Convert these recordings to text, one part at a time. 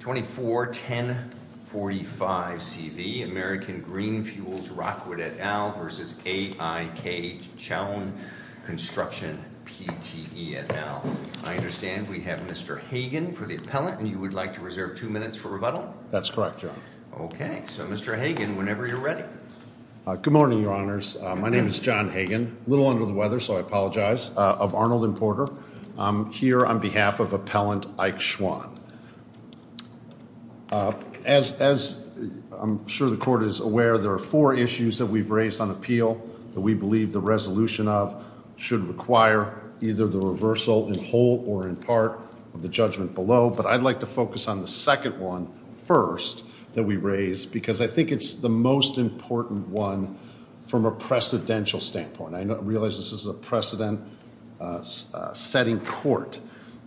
24-1045CV American GreenFuels Rockwood et al. v AIK Chuan Construction PTE et al. I understand we have Mr. Hagan for the appellant, and you would like to reserve two minutes for rebuttal? That's correct, John. Okay, so Mr. Hagan, whenever you're ready. Good morning, Your Honors. My name is John Hagan. A little under the weather, so I apologize. I'm here on behalf of Appellant AIK Chuan. As I'm sure the Court is aware, there are four issues that we've raised on appeal that we believe the resolution of should require either the reversal in whole or in part of the judgment below. But I'd like to focus on the second one first that we raised because I think it's the most important one from a precedential standpoint. I realize this is a precedent-setting court.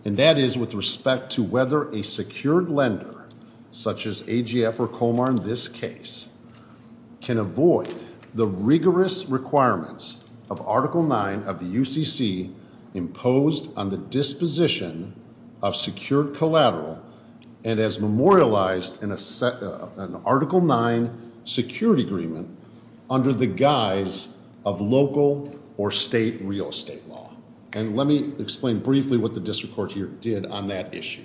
And that is with respect to whether a secured lender, such as AGF or Comar in this case, can avoid the rigorous requirements of Article 9 of the UCC imposed on the disposition of secured collateral and as memorialized in an Article 9 security agreement under the guise of local or state real estate law. And let me explain briefly what the district court here did on that issue.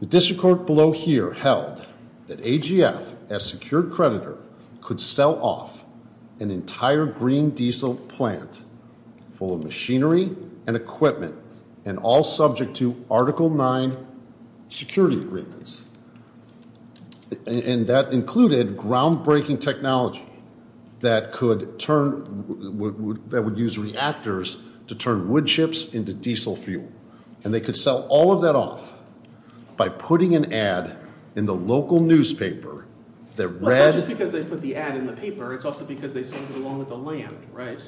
The district court below here held that AGF, as secured creditor, could sell off an entire green diesel plant full of machinery and equipment, and all subject to Article 9 security agreements. And that included groundbreaking technology that would use reactors to turn wood chips into diesel fuel. And they could sell all of that off by putting an ad in the local newspaper that read- It's not just because they put the ad in the paper. It's also because they sold it along with the land, right?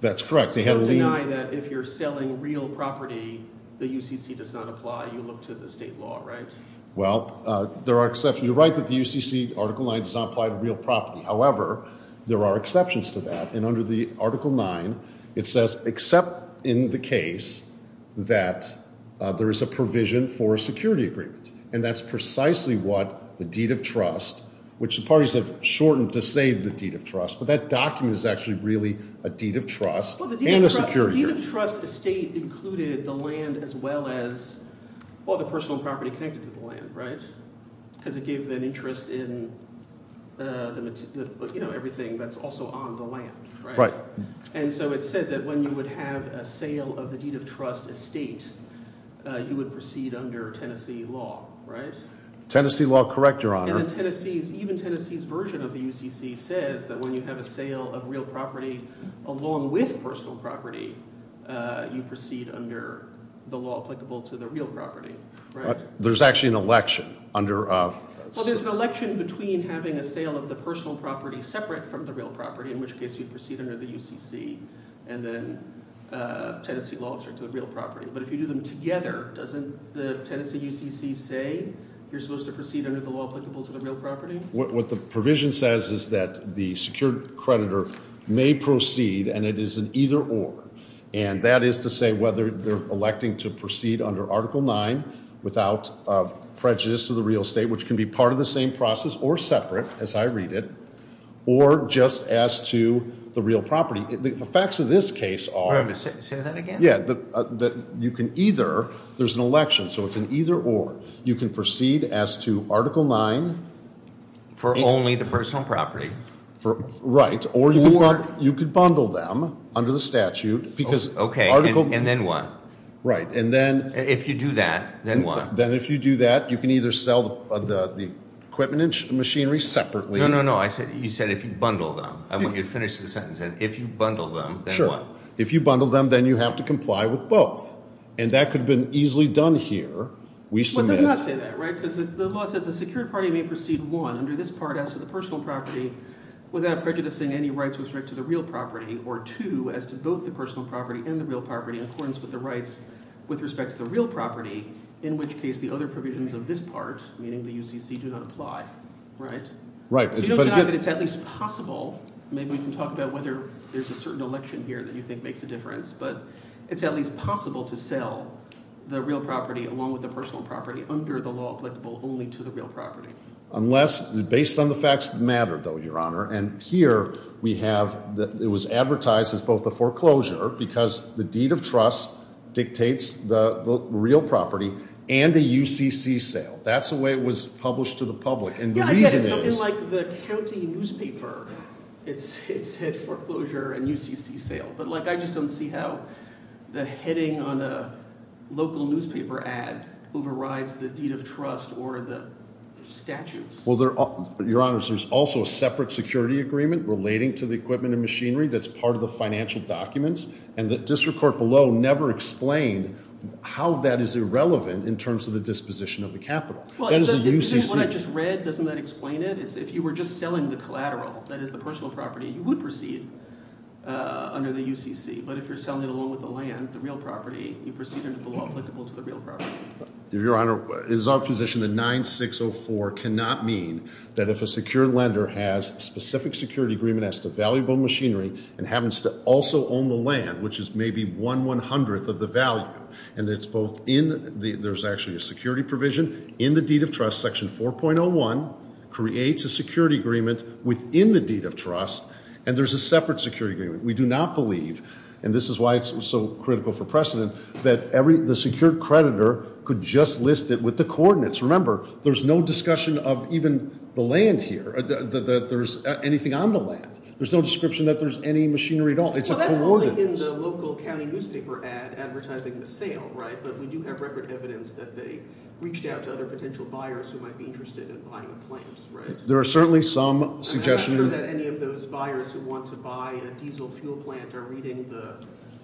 That's correct. So deny that if you're selling real property, the UCC does not apply. You look to the state law, right? Well, there are exceptions. You're right that the UCC Article 9 does not apply to real property. However, there are exceptions to that. And under the Article 9, it says except in the case that there is a provision for a security agreement. And that's precisely what the deed of trust, which the parties have shortened to say the deed of trust, but that document is actually really a deed of trust and a security agreement. The deed of trust estate included the land as well as all the personal property connected to the land, right? Because it gave them interest in everything that's also on the land, right? Right. And so it said that when you would have a sale of the deed of trust estate, you would proceed under Tennessee law, right? Tennessee law, correct, Your Honor. And even Tennessee's version of the UCC says that when you have a sale of real property along with personal property, you proceed under the law applicable to the real property, right? There's actually an election under- Well, there's an election between having a sale of the personal property separate from the real property, in which case you'd proceed under the UCC and then Tennessee law to a real property. But if you do them together, doesn't the Tennessee UCC say you're supposed to proceed under the law applicable to the real property? What the provision says is that the secured creditor may proceed, and it is an either or. And that is to say whether they're electing to proceed under Article 9 without prejudice to the real estate, which can be part of the same process or separate, as I read it, or just as to the real property. The facts of this case are- Say that again? Yeah, that you can either, there's an election, so it's an either or. You can proceed as to Article 9- For only the personal property. Right, or you could bundle them under the statute because- Okay, and then what? Right, and then- If you do that, then what? Then if you do that, you can either sell the equipment and machinery separately- No, no, no, you said if you bundle them. I want you to finish the sentence then. If you bundle them, then what? If you bundle them, then you have to comply with both. And that could have been easily done here. We submit- Well, it does not say that, right? Because the law says the secured party may proceed, one, under this part as to the personal property without prejudicing any rights with respect to the real property, or two, as to both the personal property and the real property in accordance with the rights with respect to the real property, in which case the other provisions of this part, meaning the UCC, do not apply, right? Right. So you don't deny that it's at least possible, maybe we can talk about whether there's a certain election here that you think makes a difference, but it's at least possible to sell the real property along with the personal property under the law applicable only to the real property. Unless, based on the facts that matter, though, Your Honor, and here we have that it was advertised as both a foreclosure because the deed of trust dictates the real property and a UCC sale. That's the way it was published to the public. And the reason is- Yeah, I get it. Well, Your Honor, there's also a separate security agreement relating to the equipment and machinery that's part of the financial documents, and the district court below never explained how that is irrelevant in terms of the disposition of the capital. Well, what I just read, doesn't that explain it? If you were just selling the collateral, that is the personal property, you would proceed under the UCC. But if you're selling it along with the land, the real property, you proceed under the law applicable to the real property. Your Honor, it is our position that 9604 cannot mean that if a secure lender has a specific security agreement as to valuable machinery and happens to also own the land, which is maybe one one-hundredth of the value, and it's both in the- there's actually a security provision in the deed of trust, section 4.01, creates a security agreement within the deed of trust, and there's a separate security agreement. We do not believe, and this is why it's so critical for precedent, that the secure creditor could just list it with the coordinates. Remember, there's no discussion of even the land here, that there's anything on the land. There's no description that there's any machinery at all. It's a coordinates. Well, that's only in the local county newspaper ad advertising the sale, right? But we do have record evidence that they reached out to other potential buyers who might be interested in buying the plant, right? There are certainly some suggestions- Any of those buyers who want to buy a diesel fuel plant are reading the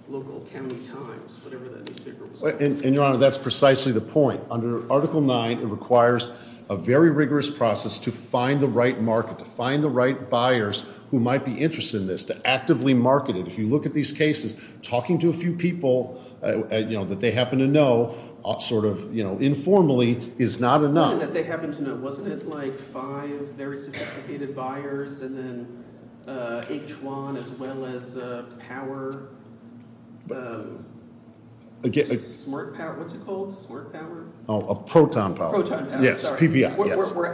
local county times, whatever that newspaper was- And, Your Honor, that's precisely the point. Under Article 9, it requires a very rigorous process to find the right market, to find the right buyers who might be interested in this, to actively market it. If you look at these cases, talking to a few people, you know, that they happen to know, sort of, you know, informally, is not enough. Something that they happen to know, wasn't it? Like five very sophisticated buyers and then H1 as well as power, smart power, what's it called, smart power? Oh, proton power. Proton power, sorry. Yes, PPI, yes. We're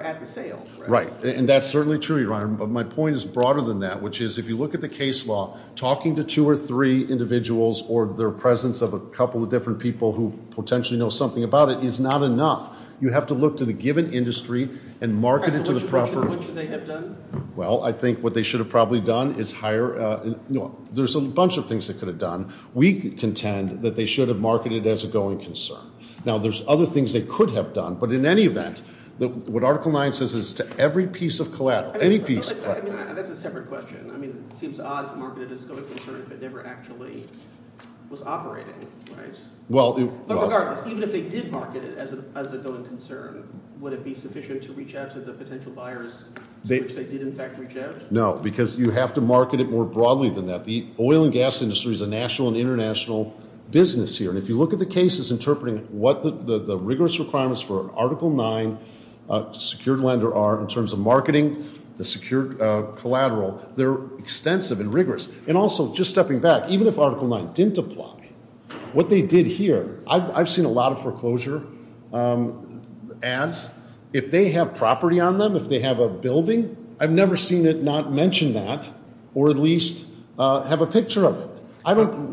at the sale, right? Right, and that's certainly true, Your Honor, but my point is broader than that, which is if you look at the case law, talking to two or three individuals or their presence of a couple of different people who potentially know something about it is not enough. You have to look to the given industry and market it to the proper- What should they have done? Well, I think what they should have probably done is hire- There's a bunch of things they could have done. We contend that they should have marketed it as a going concern. Now, there's other things they could have done, but in any event, what Article 9 says is to every piece of collateral, any piece of collateral- That's a separate question. I mean it seems odd to market it as a going concern if it never actually was operating, right? But regardless, even if they did market it as a going concern, would it be sufficient to reach out to the potential buyers to which they did in fact reach out? No, because you have to market it more broadly than that. The oil and gas industry is a national and international business here, and if you look at the cases interpreting what the rigorous requirements for Article 9 secured lender are in terms of marketing, the secured collateral, they're extensive and rigorous. And also, just stepping back, even if Article 9 didn't apply, what they did here- I've seen a lot of foreclosure ads. If they have property on them, if they have a building, I've never seen it not mention that or at least have a picture of it.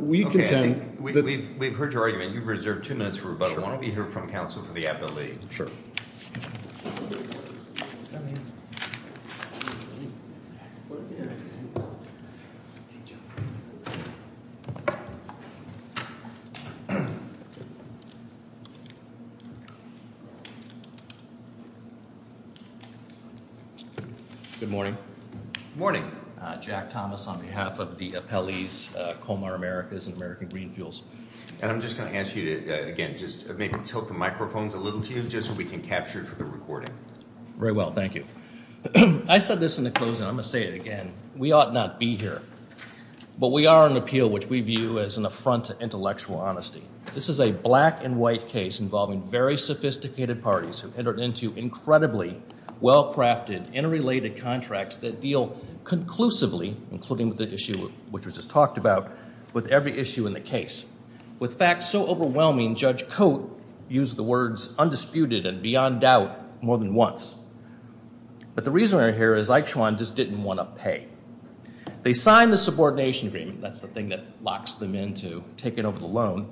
We contend that- We've heard your argument. You've reserved two minutes for rebuttal. Sure. Why don't we hear from counsel for the ability- Sure. Thank you. Good morning. Good morning. Jack Thomas on behalf of the appellees, Comar Americas and American Green Fuels. And I'm just going to ask you to, again, just maybe tilt the microphones a little to you just so we can capture it for the recording. Very well. Thank you. I said this in the closing. I'm going to say it again. We ought not be here, but we are an appeal which we view as an affront to intellectual honesty. This is a black and white case involving very sophisticated parties who entered into incredibly well-crafted, interrelated contracts that deal conclusively, including the issue which was just talked about, with every issue in the case. With facts so overwhelming, Judge Cote used the words undisputed and beyond doubt more than once. But the reason we're here is Eichshwein just didn't want to pay. They signed the subordination agreement. That's the thing that locks them into taking over the loan,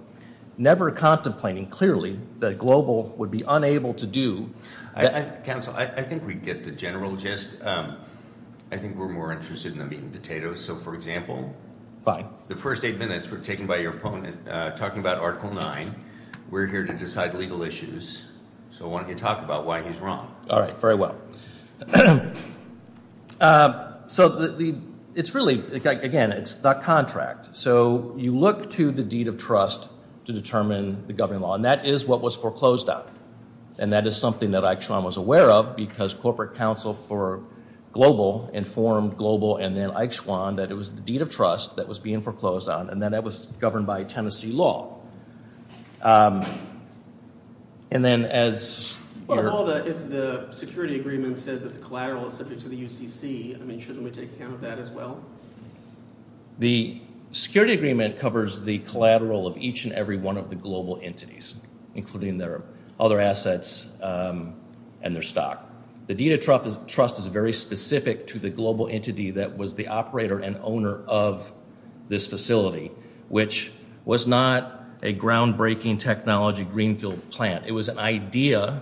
never contemplating clearly that a global would be unable to do- Counsel, I think we get the general gist. I think we're more interested in them eating potatoes. So, for example- Fine. The first eight minutes were taken by your opponent talking about Article 9. We're here to decide legal issues, so why don't you talk about why he's wrong? All right. Very well. So, it's really, again, it's the contract. So, you look to the deed of trust to determine the governing law, and that is what was foreclosed on. And that is something that Eichshwein was aware of because Corporate Counsel for Global informed Global and then Eichshwein that it was the deed of trust that was being foreclosed on, and that it was governed by Tennessee law. And then as- Well, if the security agreement says that the collateral is subject to the UCC, I mean, shouldn't we take account of that as well? The security agreement covers the collateral of each and every one of the global entities, including their other assets and their stock. The deed of trust is very specific to the global entity that was the operator and owner of this facility, which was not a groundbreaking technology greenfield plant. It was an idea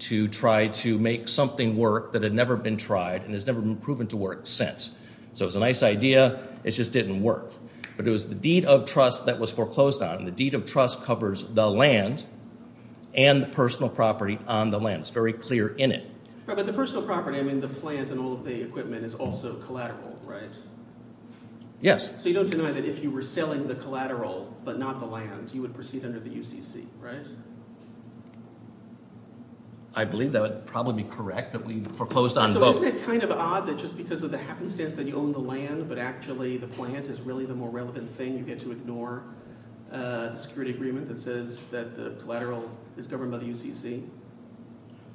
to try to make something work that had never been tried and has never been proven to work since. So, it was a nice idea. It just didn't work. But it was the deed of trust that was foreclosed on. The deed of trust covers the land and the personal property on the land. It's very clear in it. But the personal property, I mean, the plant and all of the equipment is also collateral, right? Yes. So you don't deny that if you were selling the collateral but not the land, you would proceed under the UCC, right? I believe that would probably be correct, but we foreclosed on both. Isn't it kind of odd that just because of the happenstance that you own the land but actually the plant is really the more relevant thing, you get to ignore the security agreement that says that the collateral is governed by the UCC?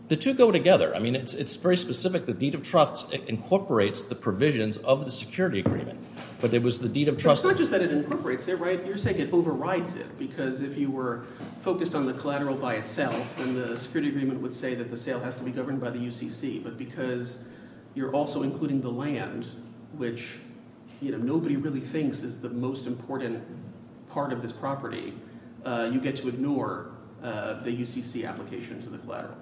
The two go together. I mean it's very specific. The deed of trust incorporates the provisions of the security agreement. But it was the deed of trust. It's not just that it incorporates it, right? You're saying it overrides it because if you were focused on the collateral by itself, then the security agreement would say that the sale has to be governed by the UCC. But because you're also including the land, which nobody really thinks is the most important part of this property, you get to ignore the UCC application to the collateral.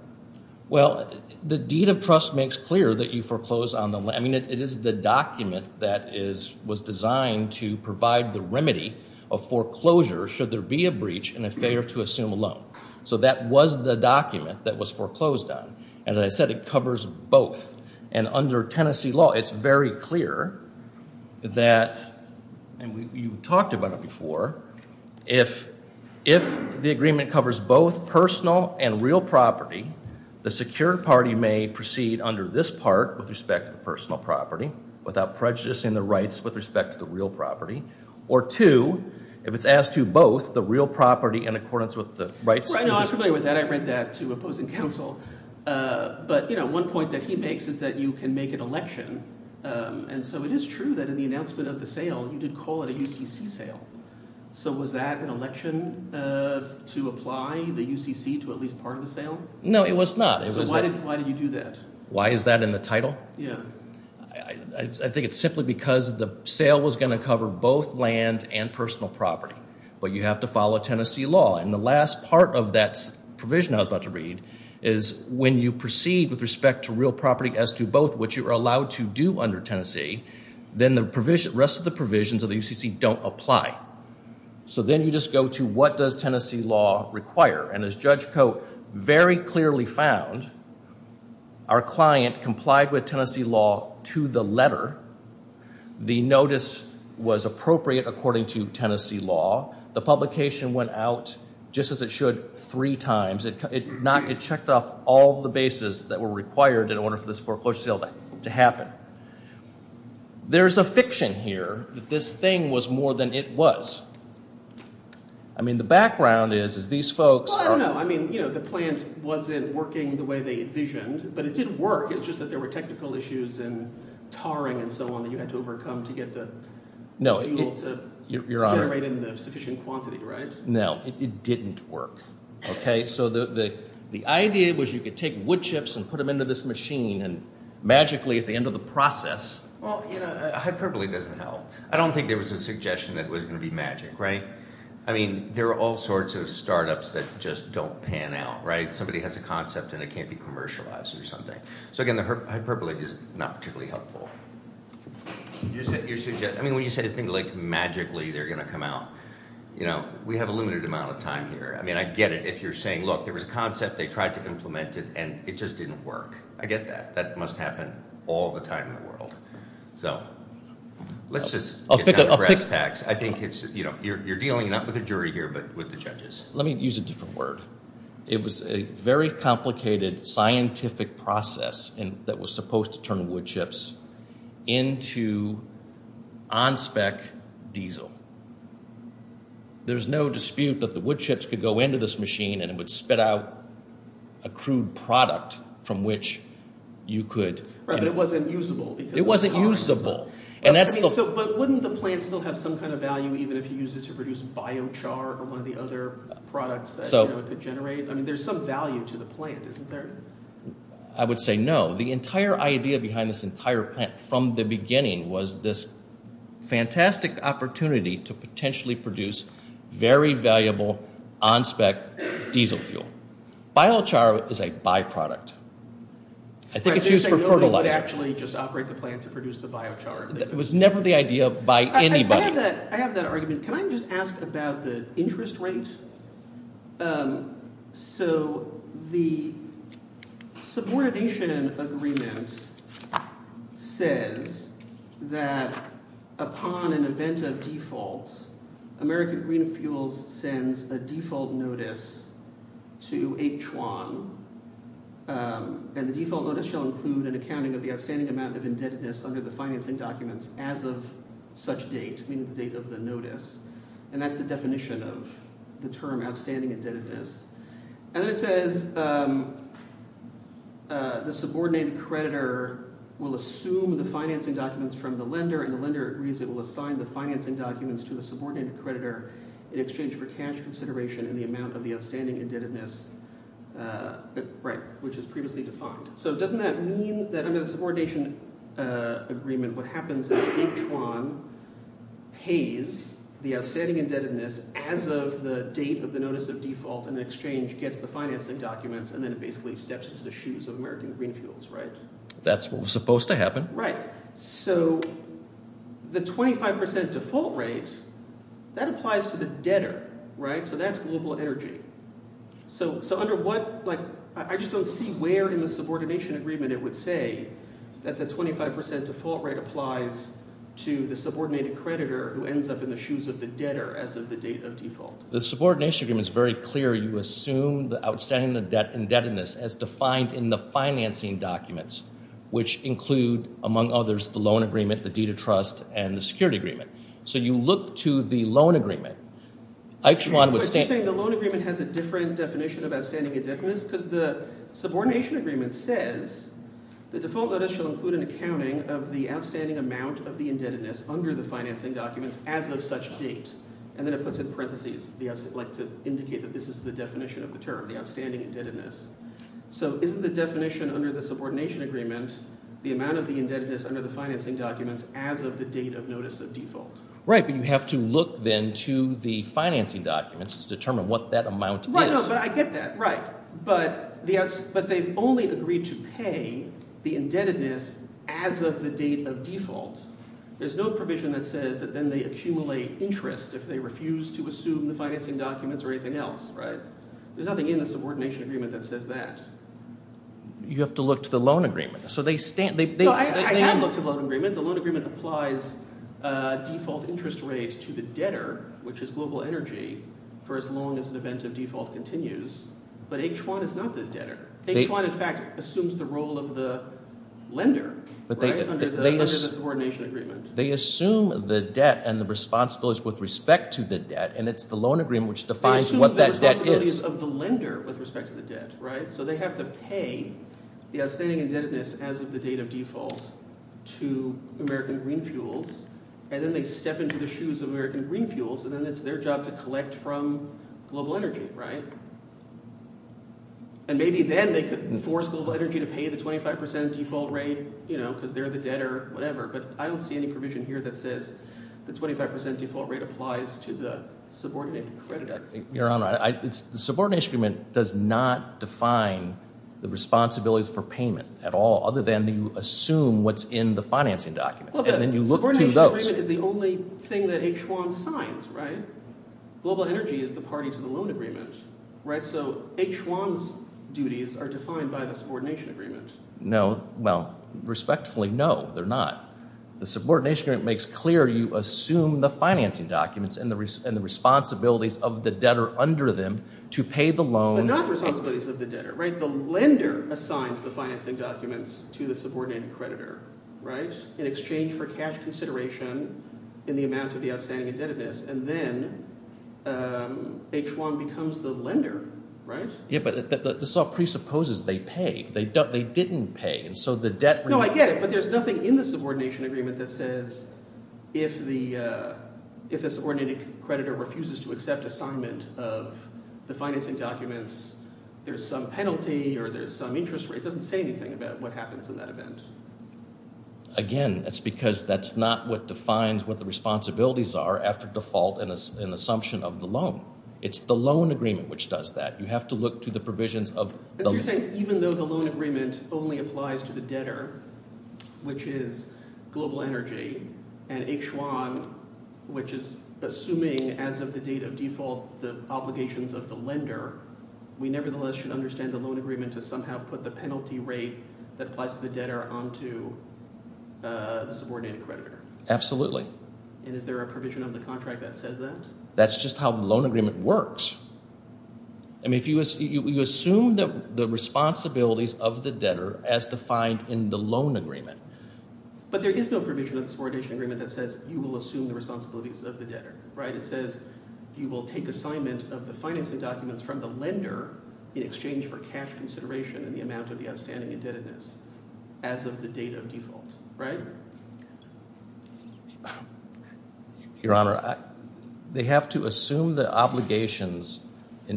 Well, the deed of trust makes clear that you foreclosed on the – I mean it is the document that is – was designed to provide the remedy of foreclosure should there be a breach and a failure to assume a loan. So that was the document that was foreclosed on. As I said, it covers both. And under Tennessee law, it's very clear that – and you talked about it before. If the agreement covers both personal and real property, the secured party may proceed under this part with respect to the personal property without prejudicing the rights with respect to the real property. Or two, if it's asked to both, the real property in accordance with the rights – I know. I'm familiar with that. I read that to opposing counsel. But one point that he makes is that you can make an election, and so it is true that in the announcement of the sale, you did call it a UCC sale. So was that an election to apply the UCC to at least part of the sale? No, it was not. It was – So why did you do that? Why is that in the title? I think it's simply because the sale was going to cover both land and personal property. But you have to follow Tennessee law. And the last part of that provision I was about to read is when you proceed with respect to real property as to both, which you are allowed to do under Tennessee, then the rest of the provisions of the UCC don't apply. So then you just go to what does Tennessee law require? And as Judge Cote very clearly found, our client complied with Tennessee law to the letter. The notice was appropriate according to Tennessee law. The publication went out just as it should three times. It checked off all the bases that were required in order for this foreclosure sale to happen. There's a fiction here that this thing was more than it was. I mean the background is these folks – Well, I don't know. I mean the plant wasn't working the way they envisioned, but it did work. It's just that there were technical issues and tarring and so on that you had to overcome to get the fuel to generate in the sufficient quantity, right? No, it didn't work. Okay, so the idea was you could take wood chips and put them into this machine and magically at the end of the process – Well, hyperbole doesn't help. I don't think there was a suggestion that it was going to be magic, right? I mean there are all sorts of startups that just don't pan out, right? Somebody has a concept and it can't be commercialized or something. So again, the hyperbole is not particularly helpful. I mean when you said a thing like magically they're going to come out, we have a limited amount of time here. I mean I get it if you're saying, look, there was a concept. They tried to implement it and it just didn't work. I get that. That must happen all the time in the world. So let's just get down to brass tacks. I think it's – you're dealing not with a jury here but with the judges. Let me use a different word. It was a very complicated scientific process that was supposed to turn wood chips into on-spec diesel. There's no dispute that the wood chips could go into this machine and it would spit out a crude product from which you could – But it wasn't usable. It wasn't usable. But wouldn't the plant still have some kind of value even if you used it to produce biochar or one of the other products that it could generate? I mean there's some value to the plant, isn't there? I would say no. The entire idea behind this entire plant from the beginning was this fantastic opportunity to potentially produce very valuable on-spec diesel fuel. Biochar is a byproduct. I think it's used for fertilizer. I was going to say nobody would actually just operate the plant to produce the biochar. It was never the idea by anybody. I have that argument. Can I just ask about the interest rate? So the subordination agreement says that upon an event of default, American Green Fuels sends a default notice to H1. And the default notice shall include an accounting of the outstanding amount of indebtedness under the financing documents as of such date, meaning the date of the notice. And that's the definition of the term outstanding indebtedness. And then it says the subordinated creditor will assume the financing documents from the lender, and the lender agrees it will assign the financing documents to the subordinated creditor in exchange for cash consideration in the amount of the outstanding indebtedness which is previously defined. So doesn't that mean that under the subordination agreement, what happens is H1 pays the outstanding indebtedness as of the date of the notice of default, and the exchange gets the financing documents, and then it basically steps into the shoes of American Green Fuels, right? That's what was supposed to happen. Right. So the 25% default rate, that applies to the debtor, right? So that's global energy. So under what – I just don't see where in the subordination agreement it would say that the 25% default rate applies to the subordinated creditor who ends up in the shoes of the debtor as of the date of default. The subordination agreement is very clear. You assume the outstanding indebtedness as defined in the financing documents, which include, among others, the loan agreement, the deed of trust, and the security agreement. So you look to the loan agreement. The loan agreement has a different definition of outstanding indebtedness because the subordination agreement says the default notice shall include an accounting of the outstanding amount of the indebtedness under the financing documents as of such date. And then it puts in parentheses to indicate that this is the definition of the term, the outstanding indebtedness. So isn't the definition under the subordination agreement the amount of the indebtedness under the financing documents as of the date of notice of default? Right, but you have to look then to the financing documents to determine what that amount is. Right, but I get that. Right. But they've only agreed to pay the indebtedness as of the date of default. There's no provision that says that then they accumulate interest if they refuse to assume the financing documents or anything else. There's nothing in the subordination agreement that says that. You have to look to the loan agreement. No, I have looked to the loan agreement. The loan agreement applies default interest rates to the debtor, which is global energy, for as long as the event of default continues. But H1 is not the debtor. H1 in fact assumes the role of the lender under the subordination agreement. They assume the debt and the responsibilities with respect to the debt, and it's the loan agreement which defines what that debt is. They assume the responsibilities of the lender with respect to the debt. So they have to pay the outstanding indebtedness as of the date of default to American Green Fuels. And then they step into the shoes of American Green Fuels, and then it's their job to collect from global energy. And maybe then they could force global energy to pay the 25% default rate because they're the debtor, whatever. But I don't see any provision here that says the 25% default rate applies to the subordinated creditor. Your Honor, the subordination agreement does not define the responsibilities for payment at all other than you assume what's in the financing documents. And then you look to those. Well, the subordination agreement is the only thing that H1 signs, right? Global energy is the party to the loan agreement, right? So H1's duties are defined by the subordination agreement. No. Well, respectfully, no, they're not. The subordination agreement makes clear you assume the financing documents and the responsibilities of the debtor under them to pay the loan. But not the responsibilities of the debtor, right? The lender assigns the financing documents to the subordinated creditor, right, in exchange for cash consideration in the amount of the outstanding indebtedness. And then H1 becomes the lender, right? Yeah, but this all presupposes they pay. They didn't pay. No, I get it, but there's nothing in the subordination agreement that says if the subordinated creditor refuses to accept assignment of the financing documents, there's some penalty or there's some interest rate. It doesn't say anything about what happens in that event. Again, that's because that's not what defines what the responsibilities are after default and an assumption of the loan. It's the loan agreement which does that. You have to look to the provisions of the loan agreement. The loan agreement only applies to the debtor, which is global energy, and H1, which is assuming as of the date of default the obligations of the lender. We nevertheless should understand the loan agreement to somehow put the penalty rate that applies to the debtor onto the subordinated creditor. Absolutely. And is there a provision of the contract that says that? That's just how the loan agreement works. I mean if you assume the responsibilities of the debtor as defined in the loan agreement. But there is no provision of the subordination agreement that says you will assume the responsibilities of the debtor. It says you will take assignment of the financing documents from the lender in exchange for cash consideration and the amount of the outstanding indebtedness as of the date of default. Your Honor, they have to assume the obligations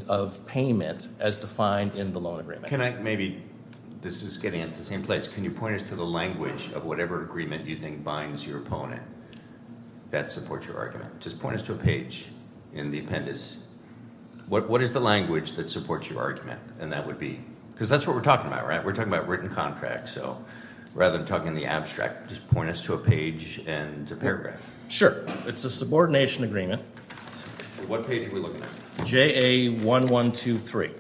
of payment as defined in the loan agreement. This is getting at the same place. Can you point us to the language of whatever agreement you think binds your opponent that supports your argument? Just point us to a page in the appendix. What is the language that supports your argument? Because that's what we're talking about, right? We're talking about written contracts. So rather than talking in the abstract, just point us to a page and a paragraph. Sure. It's a subordination agreement. What page are we looking at? JA-1123.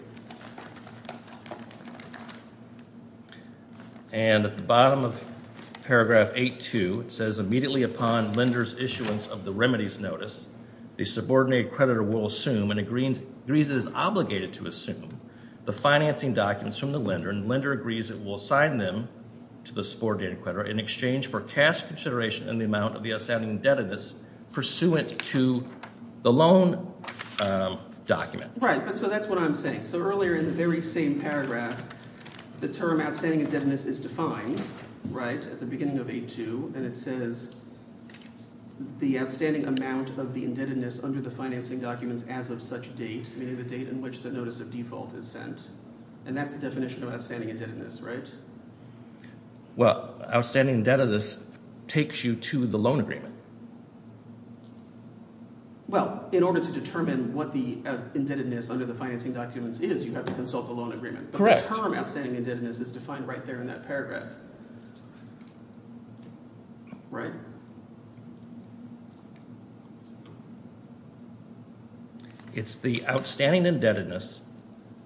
And at the bottom of paragraph 8-2, it says, The subordinated creditor will assume and agrees it is obligated to assume the financing documents from the lender, and the lender agrees it will assign them to the subordinated creditor in exchange for cash consideration and the amount of the outstanding indebtedness pursuant to the loan document. Right, but so that's what I'm saying. So earlier in the very same paragraph, the term outstanding indebtedness is defined, right, at the beginning of 8-2, and it says the outstanding amount of the indebtedness under the financing documents as of such date, meaning the date in which the notice of default is sent, and that's the definition of outstanding indebtedness, right? Well, outstanding indebtedness takes you to the loan agreement. Well, in order to determine what the indebtedness under the financing documents is, you have to consult the loan agreement. Correct. But the term outstanding indebtedness is defined right there in that paragraph, right? It's the outstanding indebtedness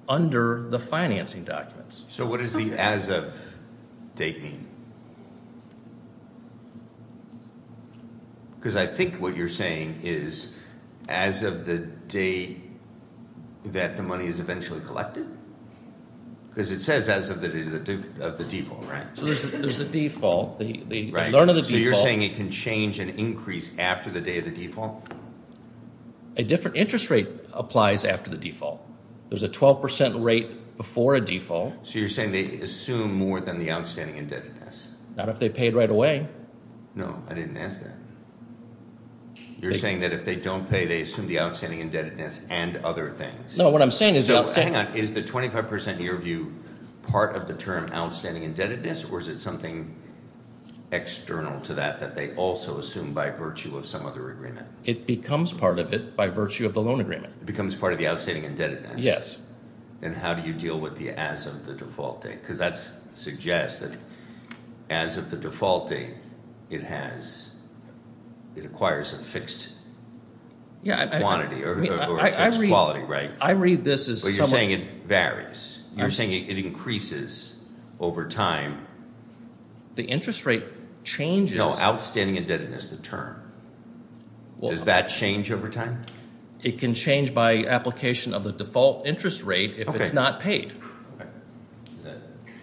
under the financing documents. So what does the as of date mean? Because I think what you're saying is as of the date that the money is eventually collected? Because it says as of the day of the default, right? There's a default. Right. So you're saying it can change and increase after the day of the default? A different interest rate applies after the default. There's a 12% rate before a default. So you're saying they assume more than the outstanding indebtedness? Not if they paid right away. No, I didn't ask that. You're saying that if they don't pay, they assume the outstanding indebtedness and other things. No, what I'm saying is the outstanding – So hang on. Is the 25% year view part of the term outstanding indebtedness or is it something external to that that they also assume by virtue of some other agreement? It becomes part of it by virtue of the loan agreement. It becomes part of the outstanding indebtedness? Yes. Then how do you deal with the as of the default date? Because that suggests that as of the default date, it has – it acquires a fixed quantity or a fixed quality, right? I read this as – But you're saying it varies. You're saying it increases over time. The interest rate changes – No, outstanding indebtedness is the term. Does that change over time? It can change by application of the default interest rate if it's not paid.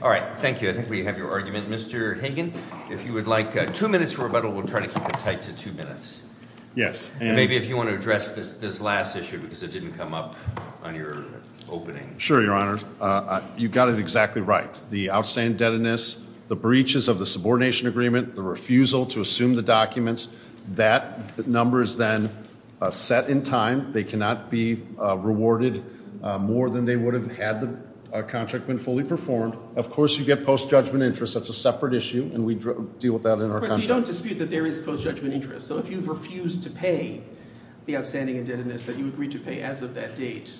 All right, thank you. I think we have your argument. Mr. Hagan, if you would like two minutes for rebuttal, we'll try to keep it tight to two minutes. Yes. Maybe if you want to address this last issue because it didn't come up on your opening. Sure, Your Honor. You got it exactly right. The outstanding indebtedness, the breaches of the subordination agreement, the refusal to assume the documents, that number is then set in time. They cannot be rewarded more than they would have had the contract been fully performed. Of course, you get post-judgment interest. That's a separate issue, and we deal with that in our contract. But you don't dispute that there is post-judgment interest. So if you've refused to pay the outstanding indebtedness that you agreed to pay as of that date,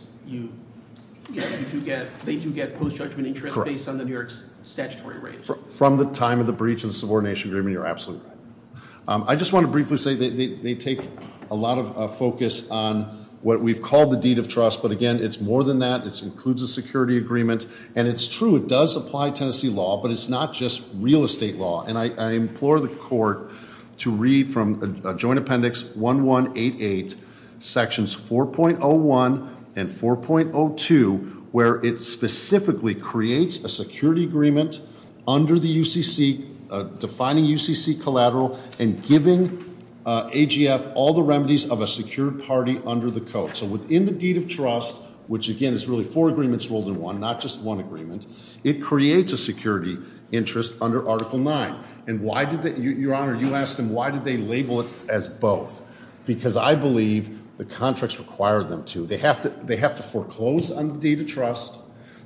they do get post-judgment interest based on the New York statutory rate. From the time of the breach of the subordination agreement, you're absolutely right. I just want to briefly say they take a lot of focus on what we've called the deed of trust. But again, it's more than that. It includes a security agreement. And it's true, it does apply Tennessee law, but it's not just real estate law. And I implore the court to read from Joint Appendix 1188, Sections 4.01 and 4.02, where it specifically creates a security agreement under the UCC, defining UCC collateral and giving AGF all the remedies of a secured party under the code. So within the deed of trust, which again is really four agreements rolled in one, not just one agreement, it creates a security interest under Article 9. And why did they, Your Honor, you asked them why did they label it as both? Because I believe the contracts require them to. They have to foreclose on the deed of trust,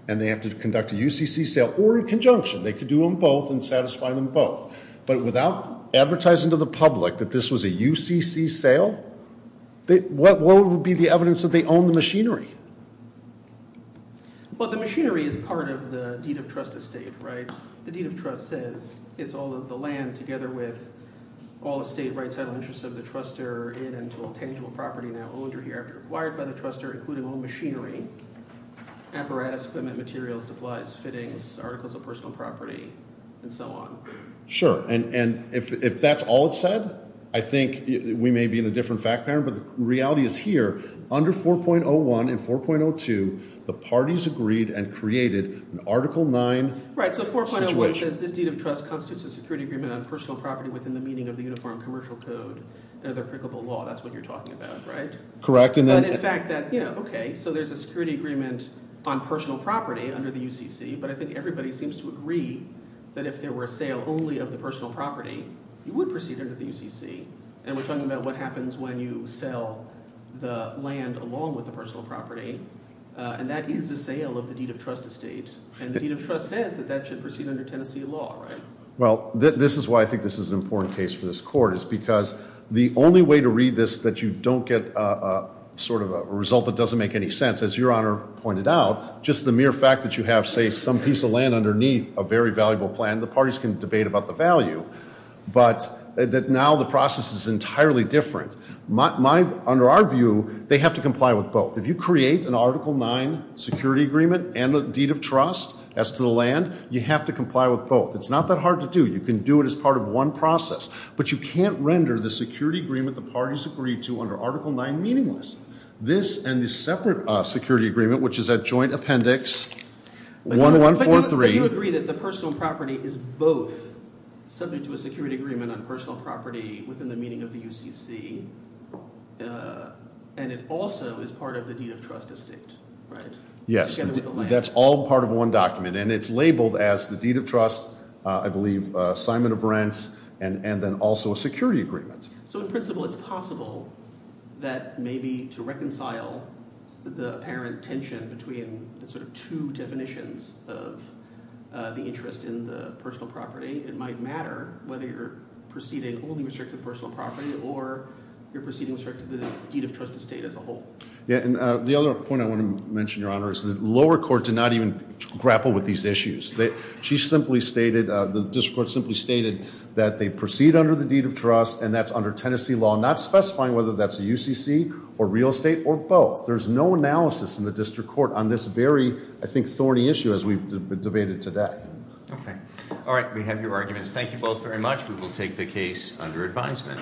and they have to conduct a UCC sale or in conjunction. They could do them both and satisfy them both. But without advertising to the public that this was a UCC sale, what would be the evidence that they own the machinery? Well, the machinery is part of the deed of trust estate, right? The deed of trust says it's all of the land together with all the state rights and interests of the trustor in and to all tangible property now owned or hereafter acquired by the trustor, including all machinery, apparatus, equipment, materials, supplies, fittings, articles of personal property, and so on. Sure. And if that's all it said, I think we may be in a different fact pattern, but the reality is here. Under 4.01 and 4.02, the parties agreed and created an Article 9 situation. Right, so 4.01 says this deed of trust constitutes a security agreement on personal property within the meaning of the Uniform Commercial Code, another applicable law. That's what you're talking about, right? Correct. And in fact that, you know, okay, so there's a security agreement on personal property under the UCC, but I think everybody seems to agree that if there were a sale only of the personal property, you would proceed under the UCC. And we're talking about what happens when you sell the land along with the personal property, and that is a sale of the deed of trust estate, and the deed of trust says that that should proceed under Tennessee law, right? Well, this is why I think this is an important case for this Court, is because the only way to read this that you don't get sort of a result that doesn't make any sense, as Your Honor pointed out, just the mere fact that you have, say, some piece of land underneath a very valuable plan, the parties can debate about the value, but now the process is entirely different. Under our view, they have to comply with both. If you create an Article 9 security agreement and a deed of trust as to the land, you have to comply with both. It's not that hard to do. You can do it as part of one process, but you can't render the security agreement the parties agree to under Article 9 meaningless. This and the separate security agreement, which is at Joint Appendix 1143. So you agree that the personal property is both subject to a security agreement on personal property within the meaning of the UCC, and it also is part of the deed of trust estate, right? Yes. Together with the land. That's all part of one document, and it's labeled as the deed of trust, I believe, assignment of rents, and then also a security agreement. So in principle, it's possible that maybe to reconcile the apparent tension between the sort of two definitions of the interest in the personal property, it might matter whether you're proceeding only with respect to personal property or you're proceeding with respect to the deed of trust estate as a whole. Yeah, and the other point I want to mention, Your Honor, is the lower court did not even grapple with these issues. She simply stated, the district court simply stated that they proceed under the deed of trust and that's under Tennessee law, not specifying whether that's a UCC or real estate or both. There's no analysis in the district court on this very, I think, thorny issue as we've debated today. Okay. All right, we have your arguments. Thank you both very much. We will take the case under advisement.